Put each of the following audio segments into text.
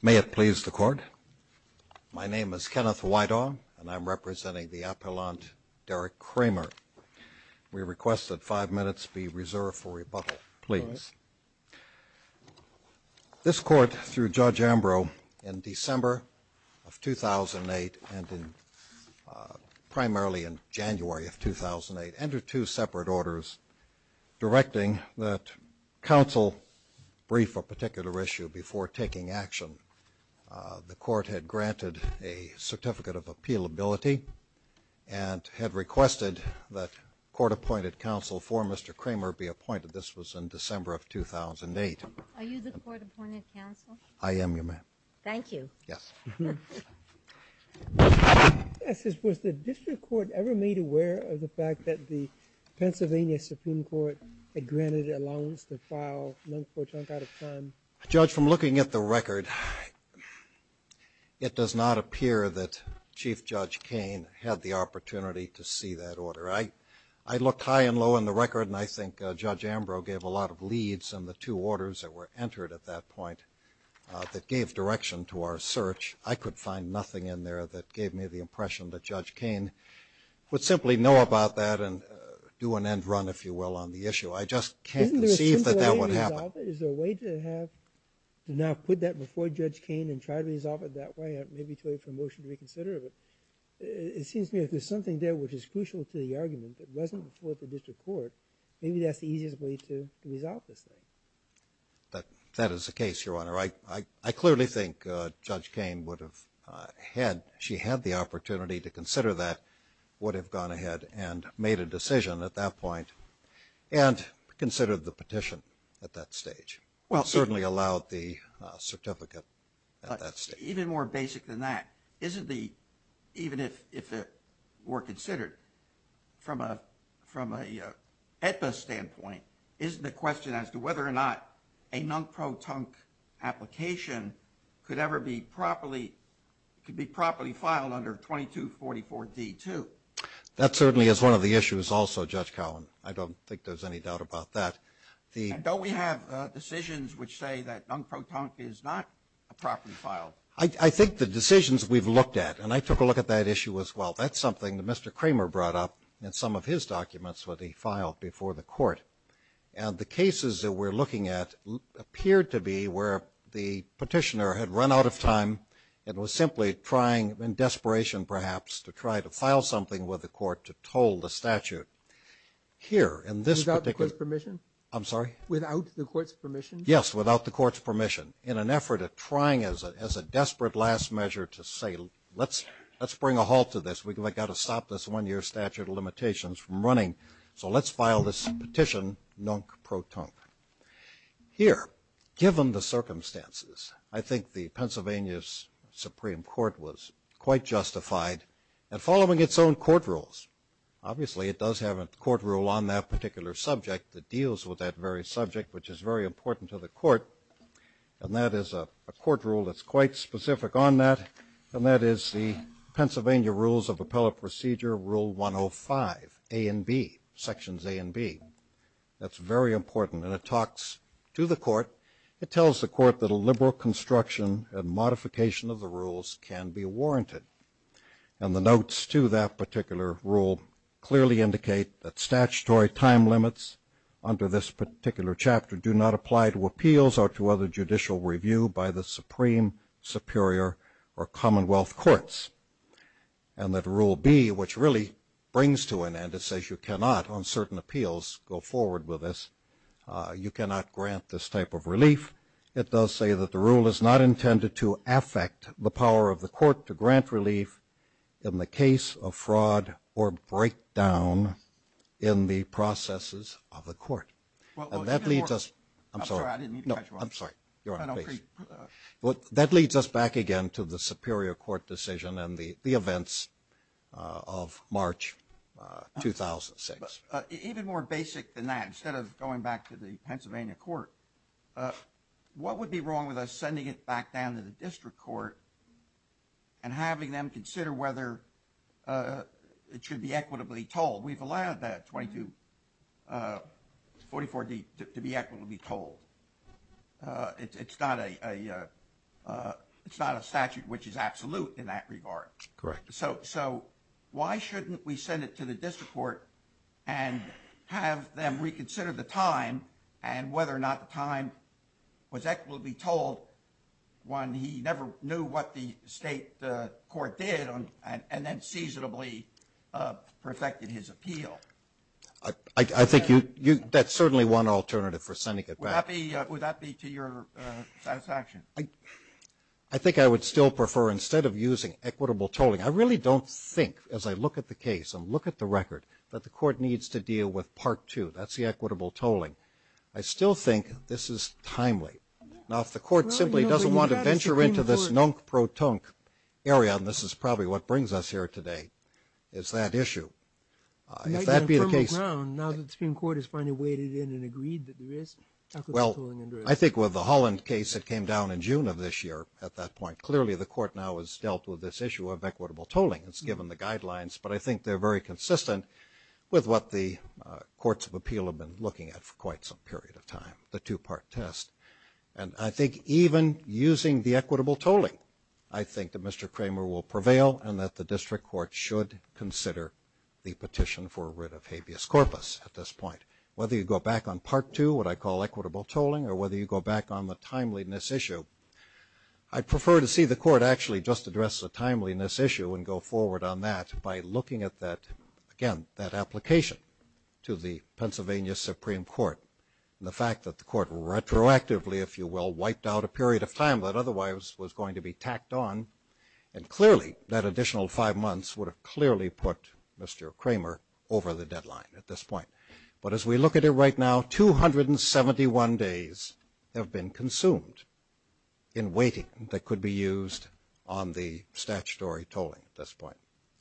May it please the Court. My name is Kenneth Wydaw and I'm representing the appellant Derek Cramer. We request that five minutes be reserved for rebuttal, please. This Court, through Judge Ambrose, in December of 2008 and primarily in particular issue before taking action, the Court had granted a Certificate of Appealability and had requested that court-appointed counsel for Mr. Cramer be appointed. This was in December of 2008. I am your man. Thank you. Yes, was the District Court ever made aware of the fact that the Pennsylvania Supreme Court had granted allowance to file non-court junk out of time? Judge, from looking at the record, it does not appear that Chief Judge Cain had the opportunity to see that order. I looked high and low in the record and I think Judge Ambrose gave a lot of leads on the two orders that were entered at that point that gave direction to our search. I could find nothing in there that gave me the impression that Judge Cain would simply know about that and do an end run, if you will, on the issue. I just can't conceive that that would happen. Isn't there a simple way to resolve it? Is there a way to have, to now put that before Judge Cain and try to resolve it that way? Maybe to wait for a motion to reconsider it. It seems to me if there's something there which is crucial to the argument that wasn't before the District Court, maybe that's the easiest way to resolve this thing. That is the case, Your Honor. I clearly think Judge Cain would have had, she had the opportunity to consider that, would have gone ahead and made a decision at that point and considered the petition at that stage. Well, certainly allowed the certificate. Even more basic than that, isn't the, even if it were considered from a, from a AEDPA standpoint, isn't the question as to whether or not a non-pro-tunk application could ever be properly, could be properly filed under 2244 D2. That certainly is one of the issues also, Judge Cowen. I don't think there's any doubt about that. Don't we have decisions which say that non-pro-tunk is not properly filed? I think the decisions we've looked at, and I took a look at that issue as well, that's something that Mr. Kramer brought up in some of his documents that he filed before the Court. And the cases that we're looking at appeared to be where the petitioner had run out of time and was simply trying, in desperation perhaps, to try to file something with the Court to toll the statute. Here, in this particular... Without the Court's permission? I'm sorry? Without the Court's permission? Yes, without the Court's permission, in an effort at trying as a desperate last measure to say, let's, let's bring a halt to this. We got to stop this one-year statute of limitations from running. So let's file this petition non-pro-tunk. Here, given the circumstances, I think the Pennsylvania's Supreme Court was quite justified in following its own court rules. Obviously, it does have a court rule on that particular subject that deals with that very subject, which is very important to the Court, and that is a court rule that's quite specific on that, and that is the Pennsylvania Rules of Appellate Procedure, Rule 105, A and B, Sections A and B. That's very important, and it talks to the Court. It tells the Court that a liberal construction and modification of the rules can be warranted. And the notes to that particular rule clearly indicate that statutory time limits under this particular chapter do not apply to appeals or to other judicial review by the Supreme, Superior, or Commonwealth Courts. And that Rule B, which really brings to an end, it says you cannot, on certain appeals, go forward with this. You cannot grant this type of relief. It does say that the rule is not intended to affect the power of the Court to grant relief in the case of fraud or breakdown in the processes of the Court. Well, that leads us back again to the Superior Court decision and the events of March 2006. Even more basic than that, instead of going back to the Pennsylvania Court, what would be wrong with us sending it back down to the District Court and having them consider whether it should be equitably told? We've allowed that 24-D to be equitably told. It's not a statute which is absolute in that regard. Correct. So why shouldn't we send it to the District Court and have them reconsider the time and whether or not the time was equitably told when he never knew what the State Court did, and then seasonably perfected his appeal? I think that's certainly one alternative for sending it back. Would that be to your satisfaction? I think I would still prefer, instead of using equitable tolling, I really don't think, as I look at the case and look at the record, that the Court needs to deal with Part 2. That's the equitable tolling. I still think this is timely. Now, if the Court simply doesn't want to venture into this nunk-pro-tunk area, and this is probably what brings us here today, is that issue. If that be the case... Now that the Supreme Court has finally waded in and agreed that there is equitable tolling... Well, I think with the Holland case that came down in June of this year, at that point, clearly the Court now has dealt with this issue of equitable tolling. It's given the guidelines, but I think they're very consistent with what the Courts of Appeal have been looking at for quite some period of time, the two-part test. And I think even using the equitable tolling, I think that Mr. Kramer will prevail and that the District Court should consider the petition for a writ of habeas corpus at this point. Whether you go back on Part 2, what I call equitable tolling, or whether you go back on the timeliness issue, I prefer to see the Court actually just address the timeliness issue and go forward on that by looking at that, again, that application to the Pennsylvania Supreme Court. The fact that the Court retroactively, if you will, wiped out a period of time that otherwise was going to be tacked on, and clearly that additional five months would have clearly put Mr. Kramer over the deadline at this point. But as we look at it right now, 271 days have been consumed in waiting that could be used on the statutory tolling at this point.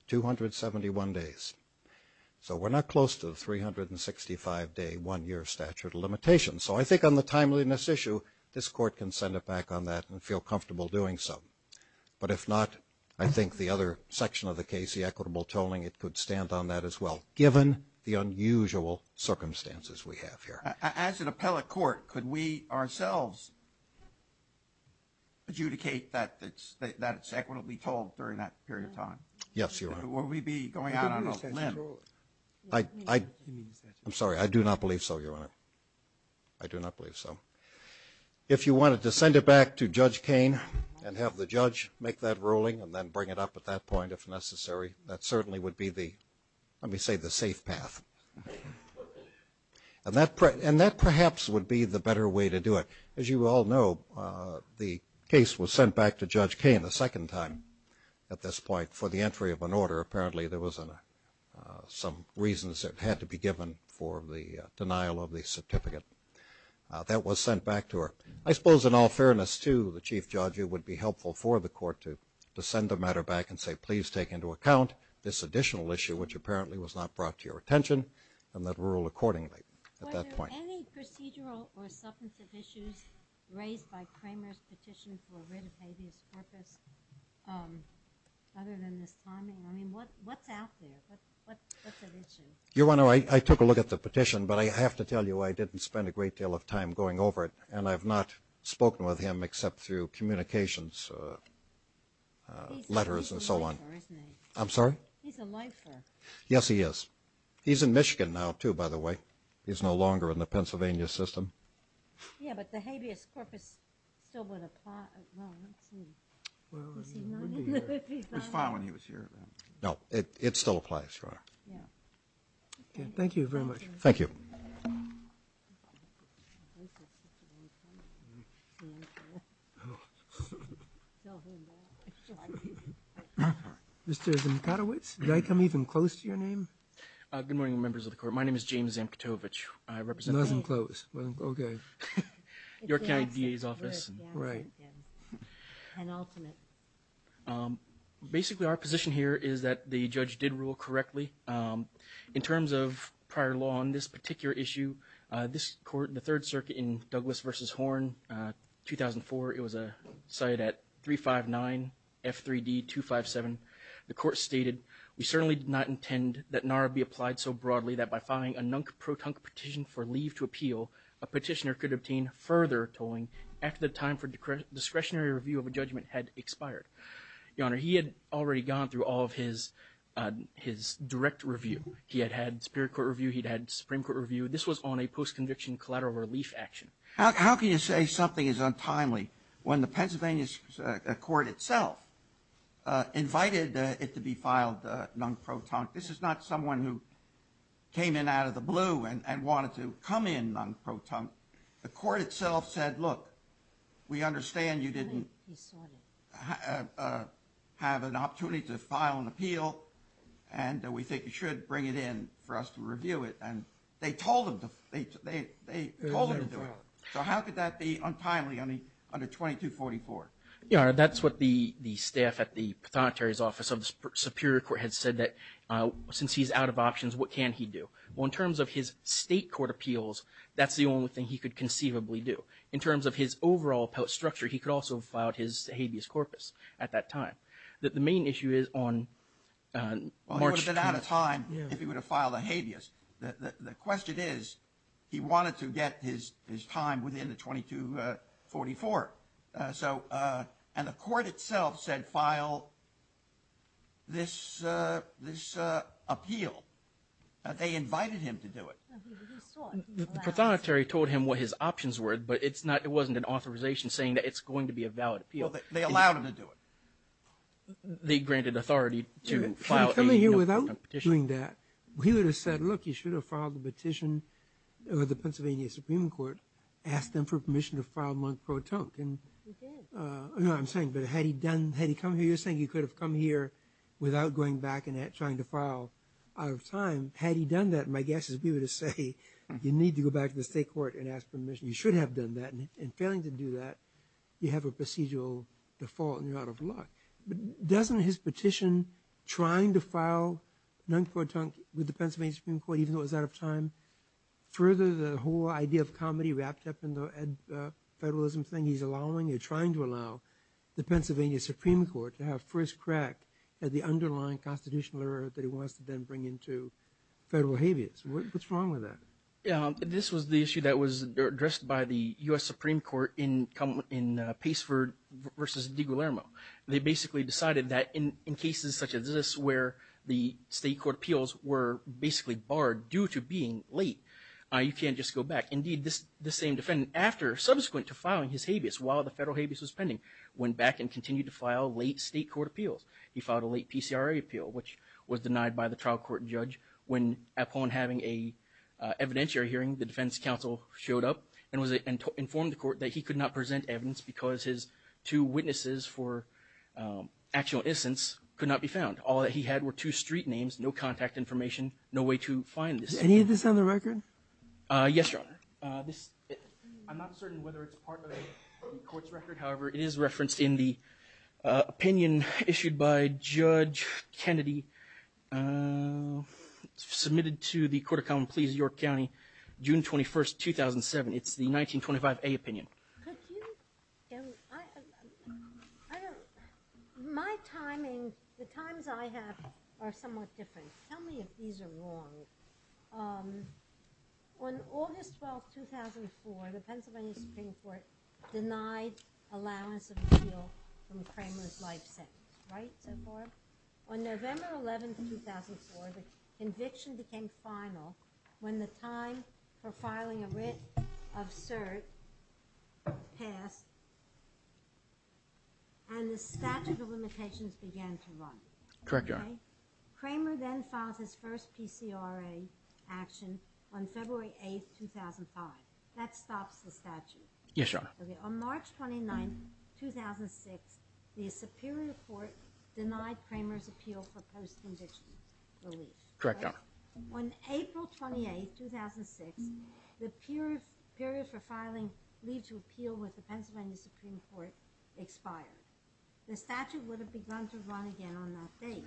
271 days. So we're not close to the 365-day, one-year statute of limitations. So I think on the timeliness issue, this Court can send it back on that and feel comfortable doing so. But if not, I think the other section of the case, the equitable tolling, it could stand on that as well, given the unusual circumstances we have here. As an appellate court, could we ourselves adjudicate that it's equitably tolled during that period of time? Yes, Your Honor. Will we be going out on a plan? I'm sorry, I do not believe so, Your Honor. I do not believe so. If you wanted to send it back to Judge Kain and have the judge make that ruling and then bring it up at that point if necessary, that certainly would be the, let me say, the safe path. And that perhaps would be the better way to do it. As you all know, the case was sent back to Judge Kain the second time at this point for the entry of an order. Apparently there was some reasons that had to be given for the denial of the certificate. That was sent back to her. I suppose in all fairness to the Chief Judge, it would be helpful for the Court to send the matter back and say, please take into account this additional issue, which apparently was not brought to your attention, and that Was there any procedural or substantive issues raised by Kramer's petition for writ of habeas corpus other than this timing? I mean, what's out there? What's at issue? I took a look at the petition, but I have to tell you I didn't spend a great deal of time going over it, and I've not spoken with him except through communications letters and so on. He's a lifer, isn't he? I'm sorry? He's a lifer. Yes, he is. He's in Michigan now, too, by the way. He's no longer in the Pennsylvania system. Yeah, but the habeas corpus still would apply. It was fine when he was here. No, it still applies, Your Honor. Yeah. Thank you very much. Thank you. Mr. Zamkowicz, did I come even close to your name? Good morning, members of the Court. My name is James Zamkowicz. Nothing close. Okay. York County DA's office. Right. Basically, our position here is that the judge did rule correctly. In terms of prior law on this particular issue, this court, the Third Circuit in Douglas v. Horn, 2004, it was a site at 359 F3D257. The court stated, We certainly did not intend that NARA be applied so broadly that by filing a nunk-protunk petition for leave to appeal, a petitioner could obtain further tolling after the time for discretionary review of a judgment had expired. Your Honor, he had already gone through all of his direct review. He had had Superior Court review. He'd had Supreme Court review. This was on a post-conviction collateral relief action. How can you say something is untimely when the Pennsylvania court itself invited it to be filed nunk-protunk? This is not someone who came in out of the blue and wanted to come in nunk-protunk. The court itself said, Look, we understand you didn't have an opportunity to file an appeal, and we think you should bring it in for us to review it. And they told him to do it. So how could that be untimely under 2244? Your Honor, that's what the staff at the Prothonotary's office of the Superior Court had said that since he's out of options, what can he do? Well, in terms of his state court appeals, that's the only thing he could conceivably do. In terms of his overall structure, he could also have filed his habeas corpus at that time. The main issue is on March 2nd. He's out of time if he were to file the habeas. The question is, he wanted to get his time within the 2244. And the court itself said, File this appeal. They invited him to do it. The Prothonotary told him what his options were, but it wasn't an authorization saying that it's going to be a valid appeal. They allowed him to do it. They granted authority to file a petition. If he had come here without doing that, he would have said, look, you should have filed the petition with the Pennsylvania Supreme Court, asked them for permission to file Monk-Protonk. You can. No, I'm saying, but had he come here, you're saying he could have come here without going back and trying to file out of time. Had he done that, my guess is we would have said, you need to go back to the state court and ask permission. You should have done that. And failing to do that, you have a procedural default and you're out of luck. Doesn't his petition trying to file Monk-Protonk with the Pennsylvania Supreme Court, even though it was out of time, further the whole idea of comedy wrapped up in the federalism thing he's allowing or trying to allow the Pennsylvania Supreme Court to have first crack at the underlying constitutional error that he wants to then bring into federal habeas? What's wrong with that? This was the issue that was addressed by the U.S. Supreme Court in Paceford v. DiGuillermo. They basically decided that in cases such as this where the state court appeals were basically barred due to being late, you can't just go back. Indeed, this same defendant, after subsequent to filing his habeas while the federal habeas was pending, went back and continued to file late state court appeals. He filed a late PCRA appeal, which was denied by the trial court judge when, upon having an evidentiary hearing, the defense counsel showed up and informed the court that he could not present evidence because his two witnesses for actual instance could not be found. All that he had were two street names, no contact information, no way to find this. Is any of this on the record? Yes, Your Honor. I'm not certain whether it's part of the court's record. However, it is referenced in the opinion issued by Judge Kennedy, submitted to the Court of Common Pleas of York County, June 21, 2007. It's the 1925A opinion. My timing, the times I have are somewhat different. Tell me if these are wrong. On August 12, 2004, the Pennsylvania Supreme Court denied allowance of appeal from Kramer's life sentence. Right so far? On November 11, 2004, the conviction became final when the time for filing a writ of cert passed and the statute of limitations began to run. Correct, Your Honor. Kramer then filed his first PCRA action on February 8, 2005. That stops the statute. Yes, Your Honor. On March 29, 2006, the Superior Court denied Kramer's appeal for post-conviction relief. Correct, Your Honor. On April 28, 2006, the period for filing leave to appeal with the Pennsylvania Supreme Court expired. The statute would have begun to run again on that date.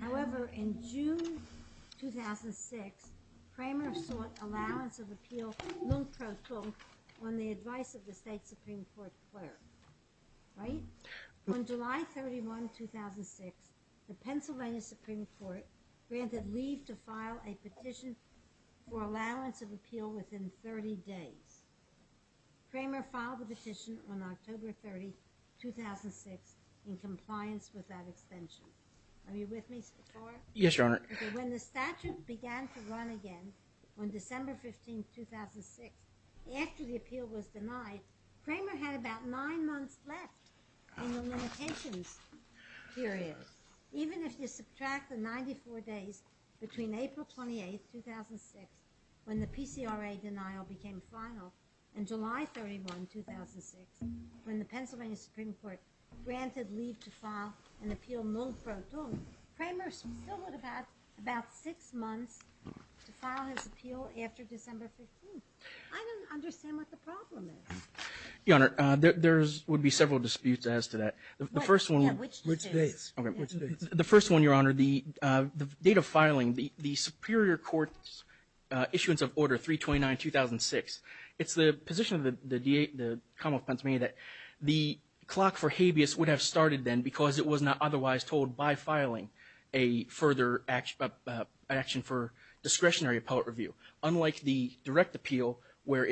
However, in June 2006, Kramer sought allowance of appeal on the advice of the state Supreme Court clerk. Right? On July 31, 2006, the Pennsylvania Supreme Court granted leave to file a petition for allowance of appeal within 30 days. Kramer filed the petition on October 30, 2006 in compliance with that extension. Are you with me so far? Yes, Your Honor. When the statute began to run again on December 15, 2006, after the appeal was denied, Kramer had about nine months left in the limitations period. Even if you subtract the 94 days between April 28, 2006, when the PCRA denial became final, and July 31, 2006, when the Pennsylvania Supreme Court granted leave to file an appeal, Kramer still had about six months to file his appeal after December 15. I don't understand what the problem is. Your Honor, there would be several disputes as to that. The first one. Which dates? The first one, Your Honor. The date of filing, the Superior Court's issuance of Order 329-2006, it's the position of the Commonwealth of Pennsylvania that the clock for habeas would have started then because it was not otherwise told by filing a further action for discretionary appellate review. Unlike the direct appeal, where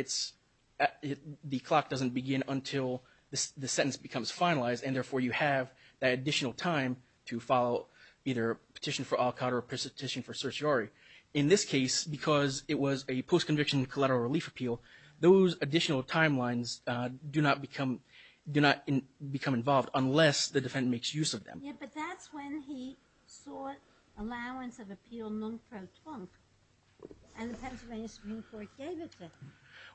the clock doesn't begin until the sentence becomes finalized, and therefore you have that additional time to file either a petition for al-Qaeda or a petition for certiorari. In this case, because it was a post-conviction collateral relief appeal, those additional timelines do not become involved unless the defendant makes use of them. Yeah, but that's when he sought allowance of appeal non pro tonque, and the Pennsylvania Supreme Court gave it to him.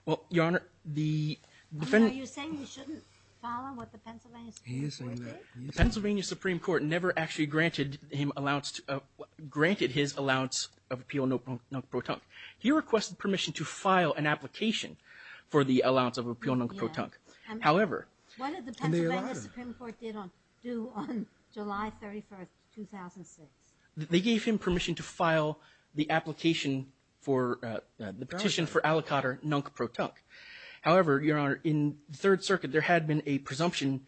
Well, Your Honor, the defendant Are you saying he shouldn't file on what the Pennsylvania Supreme Court did? He is saying that. The Pennsylvania Supreme Court never actually granted his allowance of appeal non pro tonque. He requested permission to file an application for the allowance of appeal non pro tonque. However, What did the Pennsylvania Supreme Court do on July 31, 2006? They gave him permission to file the application for the petition for al-Qaeda non pro tonque. However, Your Honor, in the Third Circuit, there had been a presumption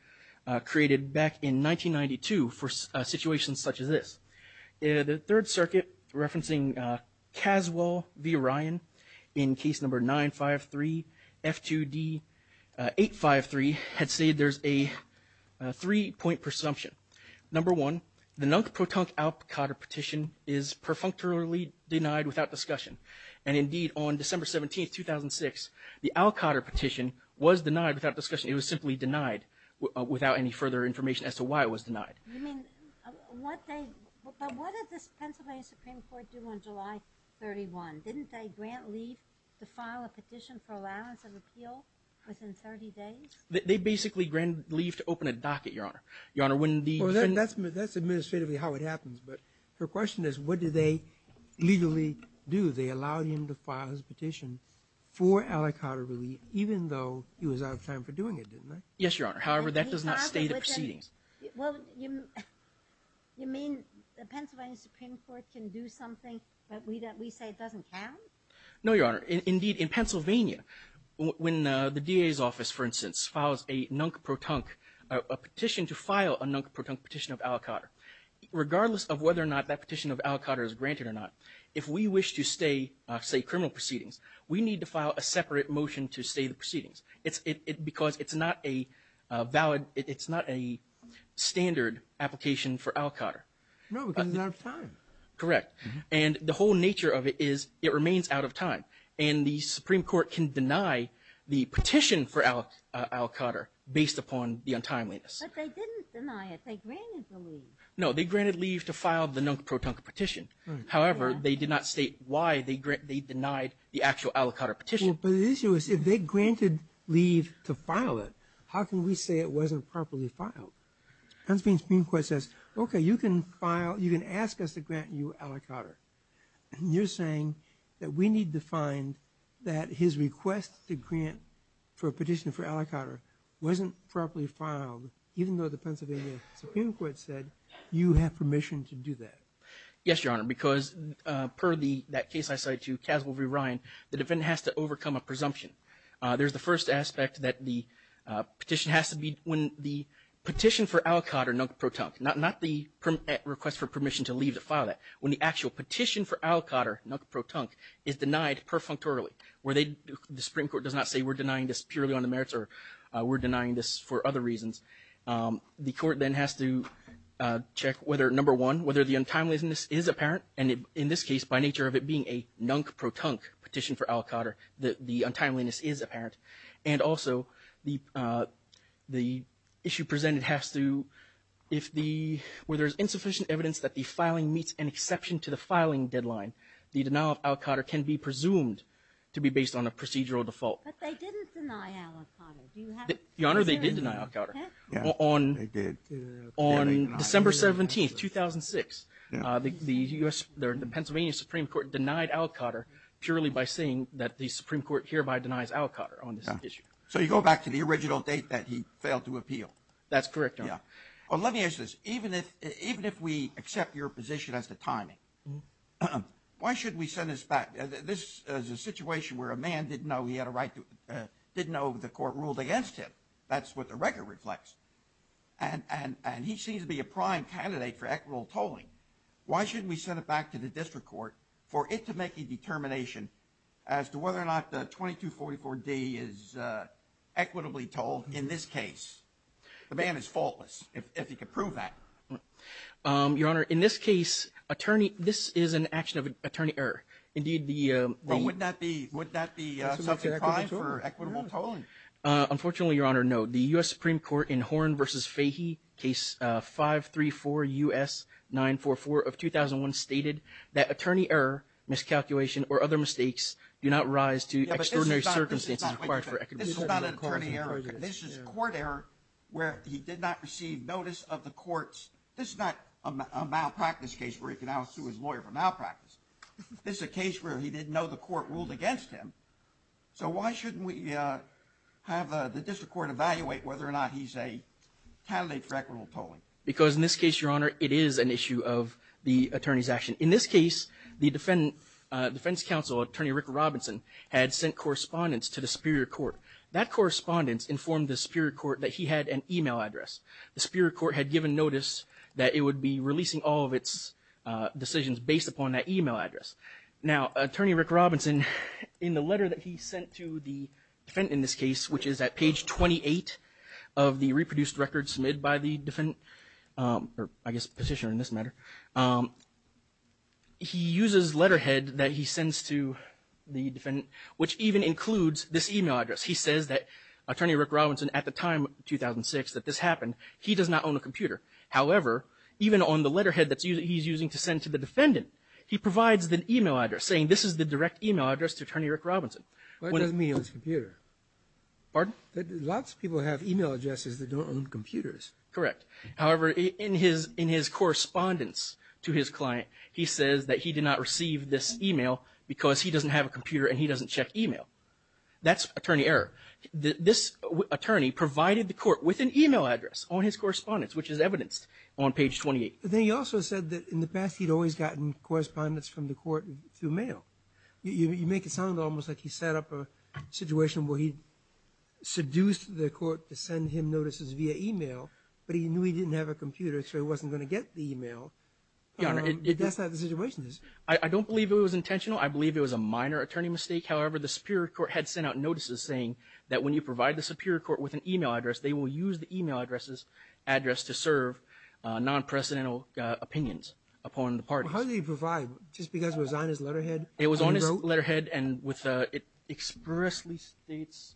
created back in 1992 for situations such as this. The Third Circuit, referencing Caswell v. Ryan in case number 953 F2D 853, had stated there's a three point presumption. Number one, the non pro tonque al-Qaeda petition is perfunctorily denied without discussion. And indeed, on December 17, 2006, the al-Qaeda petition was denied without discussion. It was simply denied without any further information as to why it was denied. But what did the Pennsylvania Supreme Court do on July 31? Didn't they grant leave to file a petition for allowance of appeal within 30 days? They basically granted leave to open a docket, Your Honor. That's administratively how it happens, but her question is what did they legally do? They allowed him to file his petition for al-Qaeda relief, even though he was out of time for doing it, didn't they? Yes, Your Honor. However, that does not state the proceedings. You mean the Pennsylvania Supreme Court can do something that we say doesn't count? No, Your Honor. Indeed, in Pennsylvania, when the DA's office, for instance, files a non pro tonque petition to file a non pro tonque petition of al-Qaeda, regardless of whether or not that petition of al-Qaeda is granted or not, if we wish to stay, say, criminal proceedings, we need to file a separate motion to stay the proceedings because it's not a standard application for al-Qaeda. No, because he's out of time. Correct. And the whole nature of it is it remains out of time, and the Supreme Court can deny the petition for al-Qaeda based upon the untimeliness. But they didn't deny it. They granted the leave. No, they granted leave to file the non pro tonque petition. However, they did not state why they denied the actual al-Qaeda petition. But the issue is if they granted leave to file it, how can we say it wasn't properly filed? The Pennsylvania Supreme Court says, okay, you can ask us to grant you al-Qaeda, and you're saying that we need to find that his request to grant for a petition for al-Qaeda wasn't properly filed, even though the Pennsylvania Supreme Court said you have permission to do that. Yes, Your Honor, because per that case I cited to Caswell v. Ryan, the defendant has to overcome a presumption. There's the first aspect that the petition has to be when the petition for al-Qaeda non pro tonque, not the request for permission to leave to file that, when the actual petition for al-Qaeda non pro tonque is denied perfunctorily, where the Supreme Court does not say we're denying this purely on the merits or we're denying this for other reasons. The court then has to check whether, number one, whether the untimeliness is apparent. And in this case, by nature of it being a non pro tonque petition for al-Qaeda, the untimeliness is apparent. And also the issue presented has to, if the, where there's insufficient evidence that the filing meets an exception to the filing deadline, the denial of al-Qaeda can be presumed to be based on a procedural default. But they didn't deny al-Qaeda. Your Honor, they did deny al-Qaeda. They did. On December 17, 2006, the Pennsylvania Supreme Court denied al-Qaeda purely by saying that the Supreme Court hereby denies al-Qaeda on this issue. So you go back to the original date that he failed to appeal. That's correct, Your Honor. Well, let me ask this. Even if we accept your position as to timing, why should we send this back? This is a situation where a man didn't know he had a right to, didn't know the court ruled against him. That's what the record reflects. And he seems to be a prime candidate for equitable tolling. Why shouldn't we send it back to the district court for it to make a determination as to whether or not the 2244-D is equitably tolled in this case? The man is faultless, if he can prove that. Your Honor, in this case, attorney, this is an action of attorney error. Indeed, the. Well, would that be, would that be something to try for equitable tolling? Unfortunately, Your Honor, no. The U.S. Supreme Court in Horn v. Fahey, Case 534-US-944 of 2001, stated that attorney error, miscalculation, or other mistakes do not rise to extraordinary circumstances required for equitable tolling. This is not an attorney error. This is court error where he did not receive notice of the court's, this is not a malpractice case where he can now sue his lawyer for malpractice. This is a case where he didn't know the court ruled against him. So why shouldn't we have the district court evaluate whether or not he's a candidate for equitable tolling? Because in this case, Your Honor, it is an issue of the attorney's action. In this case, the defense counsel, attorney Rick Robinson, had sent correspondence to the superior court. That correspondence informed the superior court that he had an e-mail address. The superior court had given notice that it would be releasing all of its decisions based upon that e-mail address. Now, attorney Rick Robinson, in the letter that he sent to the defendant in this case, which is at page 28 of the reproduced record submitted by the defendant, or I guess petitioner in this matter, he uses letterhead that he sends to the defendant, which even includes this e-mail address. He says that attorney Rick Robinson, at the time, 2006, that this happened, he does not own a computer. However, even on the letterhead that he's using to send to the defendant, he provides the e-mail address, saying this is the direct e-mail address to attorney Rick Robinson. Why doesn't he own his computer? Pardon? Lots of people have e-mail addresses that don't own computers. Correct. However, in his correspondence to his client, he says that he did not receive this e-mail because he doesn't have a computer and he doesn't check e-mail. That's attorney error. This attorney provided the court with an e-mail address on his correspondence, which is evidenced on page 28. But then he also said that in the past he'd always gotten correspondence from the court through mail. via e-mail, but he knew he didn't have a computer, so he wasn't going to get the e-mail. That's not the situation. I don't believe it was intentional. I believe it was a minor attorney mistake. However, the superior court had sent out notices saying that when you provide the superior court with an e-mail address, they will use the e-mail address to serve non-precedental opinions upon the parties. How did he provide? Just because it was on his letterhead? It was on his letterhead and it expressly states,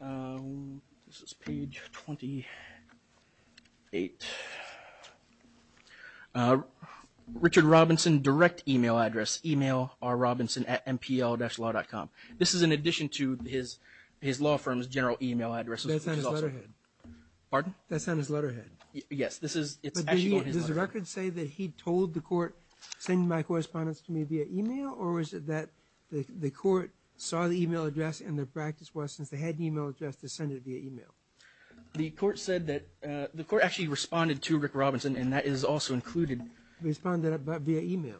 this is page 28, Richard Robinson direct e-mail address, e-mail R. Robinson at MPL-law.com. This is in addition to his law firm's general e-mail address. That's on his letterhead. Pardon? That's on his letterhead. Yes, this is actually on his letterhead. Does the record say that he told the court, send my correspondence to me via e-mail, or is it that the court saw the e-mail address and their practice was, since they had an e-mail address, to send it via e-mail? The court said that the court actually responded to Rick Robinson, and that is also included. Responded via e-mail.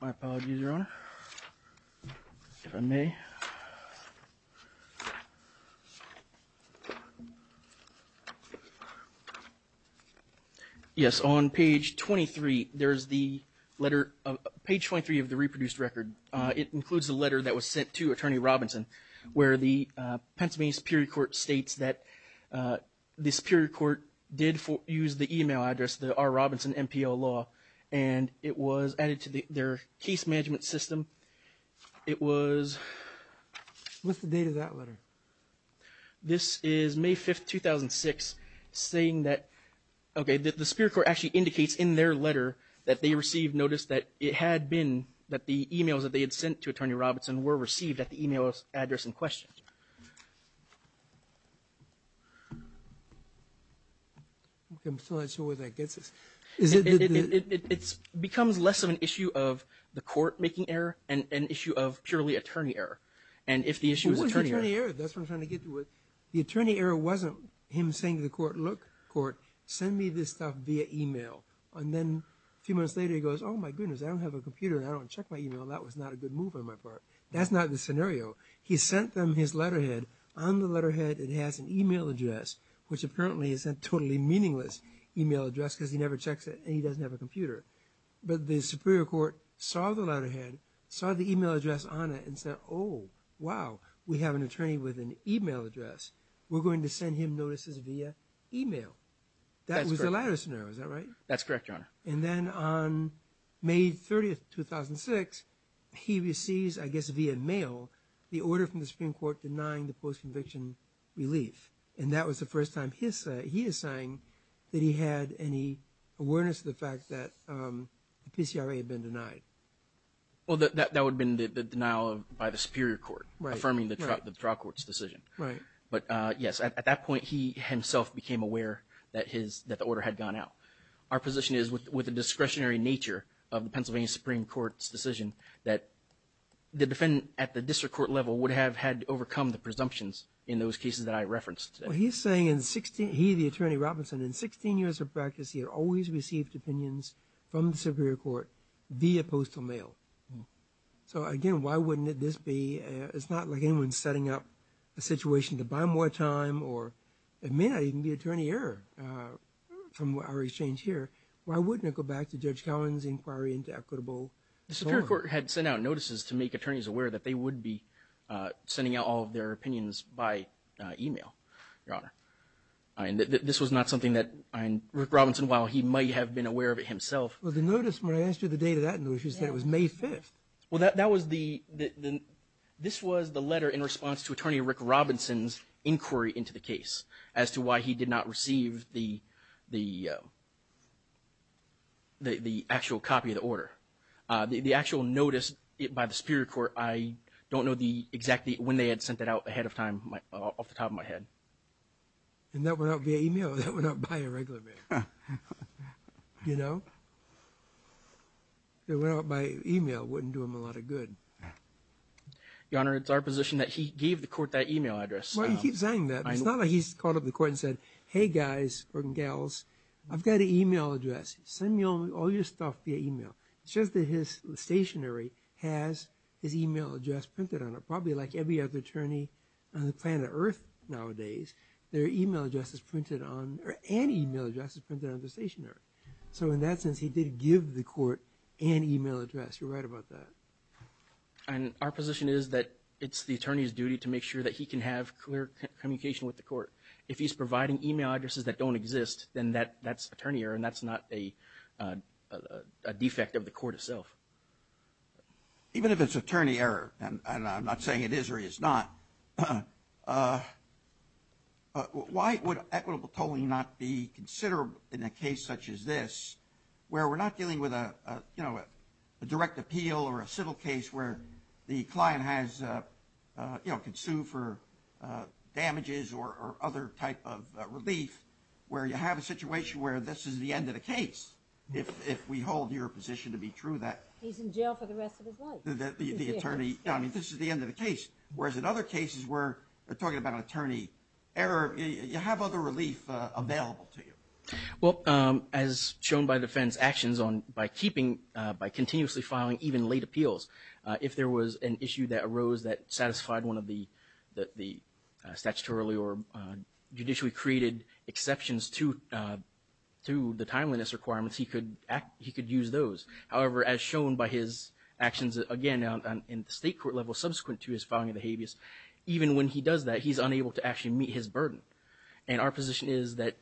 My apologies, Your Honor, if I may. Yes, on page 23, there's the letter, page 23 of the reproduced record. It includes the letter that was sent to Attorney Robinson, where the Pennsylvania Superior Court states that the Superior Court did use the e-mail address, the R. Robinson MPL-law, and it was added to their case management system. It was... What's the date of that letter? This is May 5, 2006, saying that, okay, the Superior Court actually indicates in their letter that they received notice that it had been, that the e-mails that they had sent to Attorney Robinson were received at the e-mail address in question. Okay. I'm still not sure where that gets us. It becomes less of an issue of the court making error and an issue of purely attorney error. And if the issue is attorney error... What's attorney error? That's what I'm trying to get to. The attorney error wasn't him saying to the court, look, court, send me this stuff via e-mail. And then a few months later he goes, oh, my goodness, I don't have a computer, and I don't check my e-mail. That was not a good move on my part. That's not the scenario. He sent them his letterhead. On the letterhead it has an e-mail address, which apparently is a totally meaningless e-mail address because he never checks it and he doesn't have a computer. But the Superior Court saw the letterhead, saw the e-mail address on it, and said, oh, wow, we have an attorney with an e-mail address. We're going to send him notices via e-mail. Is that right? That's correct, Your Honor. And then on May 30, 2006, he receives, I guess via mail, the order from the Supreme Court denying the post-conviction relief. And that was the first time he is saying that he had any awareness of the fact that the PCRA had been denied. Well, that would have been the denial by the Superior Court, affirming the trial court's decision. Right. But, yes, at that point he himself became aware that the order had gone out. Our position is with the discretionary nature of the Pennsylvania Supreme Court's decision that the defendant at the district court level would have had to overcome the presumptions in those cases that I referenced. Well, he's saying he, the attorney Robinson, in 16 years of practice here, always received opinions from the Superior Court via postal mail. So, again, why wouldn't this be? It's not like anyone's setting up a situation to buy more time or may not even be an attorney here from our exchange here. Why wouldn't it go back to Judge Cowen's inquiry into equitable? The Superior Court had sent out notices to make attorneys aware that they would be sending out all of their opinions by e-mail, Your Honor. This was not something that Rick Robinson, while he might have been aware of it himself. Well, the notice, when I asked you the date of that notice, you said it was May 5th. Well, that was the letter in response to Attorney Rick Robinson's inquiry into the case as to why he did not receive the actual copy of the order. The actual notice by the Superior Court, I don't know exactly when they had sent that out ahead of time off the top of my head. And that went out via e-mail. That went out by a regular mail. You know? It went out by e-mail. It wouldn't do him a lot of good. Your Honor, it's our position that he gave the Court that e-mail address. Well, you keep saying that. It's not like he's called up the Court and said, Hey, guys and gals, I've got an e-mail address. Send me all your stuff via e-mail. It's just that his stationery has his e-mail address printed on it. Probably like every other attorney on the planet Earth nowadays, their e-mail address is printed on, or an e-mail address is printed on the stationery. So in that sense, he did give the Court an e-mail address. You're right about that. And our position is that it's the attorney's duty to make sure that he can have clear communication with the Court. If he's providing e-mail addresses that don't exist, then that's attorney error and that's not a defect of the Court itself. Even if it's attorney error, and I'm not saying it is or is not, why would equitable tolling not be considerable in a case such as this, where we're not dealing with a direct appeal or a civil case where the client can sue for damages or other type of relief, where you have a situation where this is the end of the case, if we hold your position to be true. He's in jail for the rest of his life. This is the end of the case. Whereas in other cases where we're talking about attorney error, you have other relief available to you. Well, as shown by defense actions on by keeping, by continuously filing even late appeals, if there was an issue that arose that satisfied one of the statutorily or judicially created exceptions to the timeliness requirements, he could use those. However, as shown by his actions, again, in the state court level subsequent to his filing of the habeas, even when he does that, he's unable to actually meet his burden. And our position is that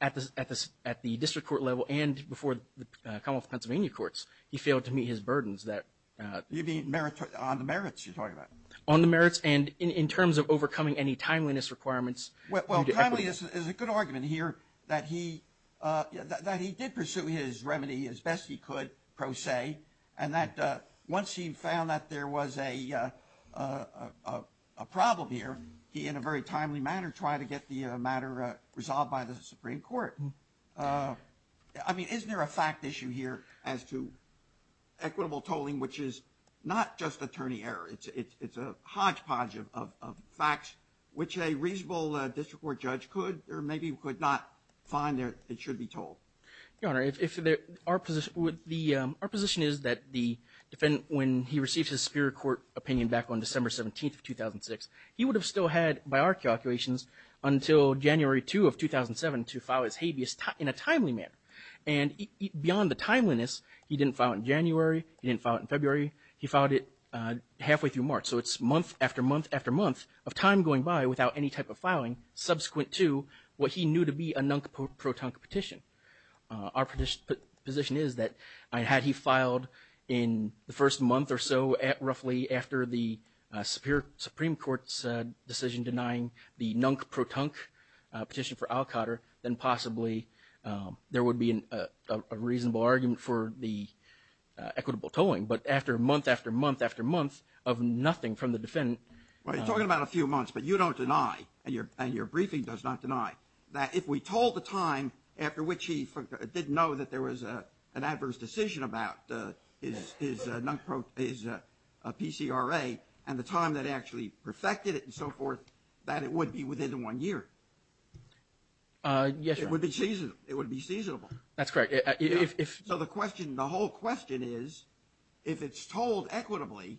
at the district court level and before the Commonwealth of Pennsylvania courts, he failed to meet his burdens. You mean on the merits you're talking about? On the merits and in terms of overcoming any timeliness requirements. Well, timeliness is a good argument here that he did pursue his remedy as best he could, pro se, and that once he found that there was a problem here, he in a very timely manner tried to get the matter resolved by the Supreme Court. I mean, isn't there a fact issue here as to equitable tolling, which is not just attorney error. It's a hodgepodge of facts which a reasonable district court judge could or maybe could not find it should be told. Your Honor, our position is that the defendant, when he received his superior court opinion back on December 17th of 2006, he would have still had, by our calculations, until January 2 of 2007 to file his habeas in a timely manner. And beyond the timeliness, he didn't file it in January. He didn't file it in February. He filed it halfway through March. So it's month after month after month of time going by without any type of error. Our position is that had he filed in the first month or so roughly after the Supreme Court's decision denying the Nunk-Protunk petition for Alcotter, then possibly there would be a reasonable argument for the equitable tolling. But after month after month after month of nothing from the defendant. Well, you're talking about a few months, but you don't deny, and your briefing does not deny, that if we told the time after which he didn't know that there was an adverse decision about his PCRA and the time that actually perfected it and so forth, that it would be within one year. Yes, Your Honor. It would be seasonable. That's correct. So the question, the whole question is, if it's told equitably,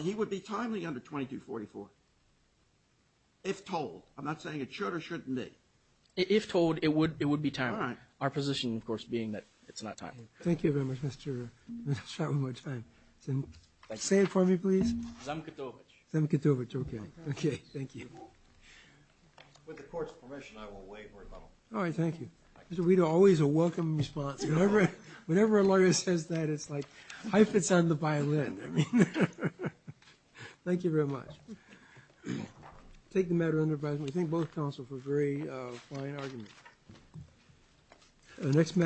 he would be timely under 2244, if told. I'm not saying it should or shouldn't be. If told, it would be timely. Our position, of course, being that it's not timely. Thank you very much. Let's try one more time. Say it for me, please. Zamkutowicz. Zamkutowicz. Okay. Thank you. With the Court's permission, I will wait for a moment. All right. Thank you. We are always a welcome response. Whenever a lawyer says that, it's like hyphens on the violin. Thank you very much. I'll take the matter under advisory. I think both counsels agree on an argument. The next matter.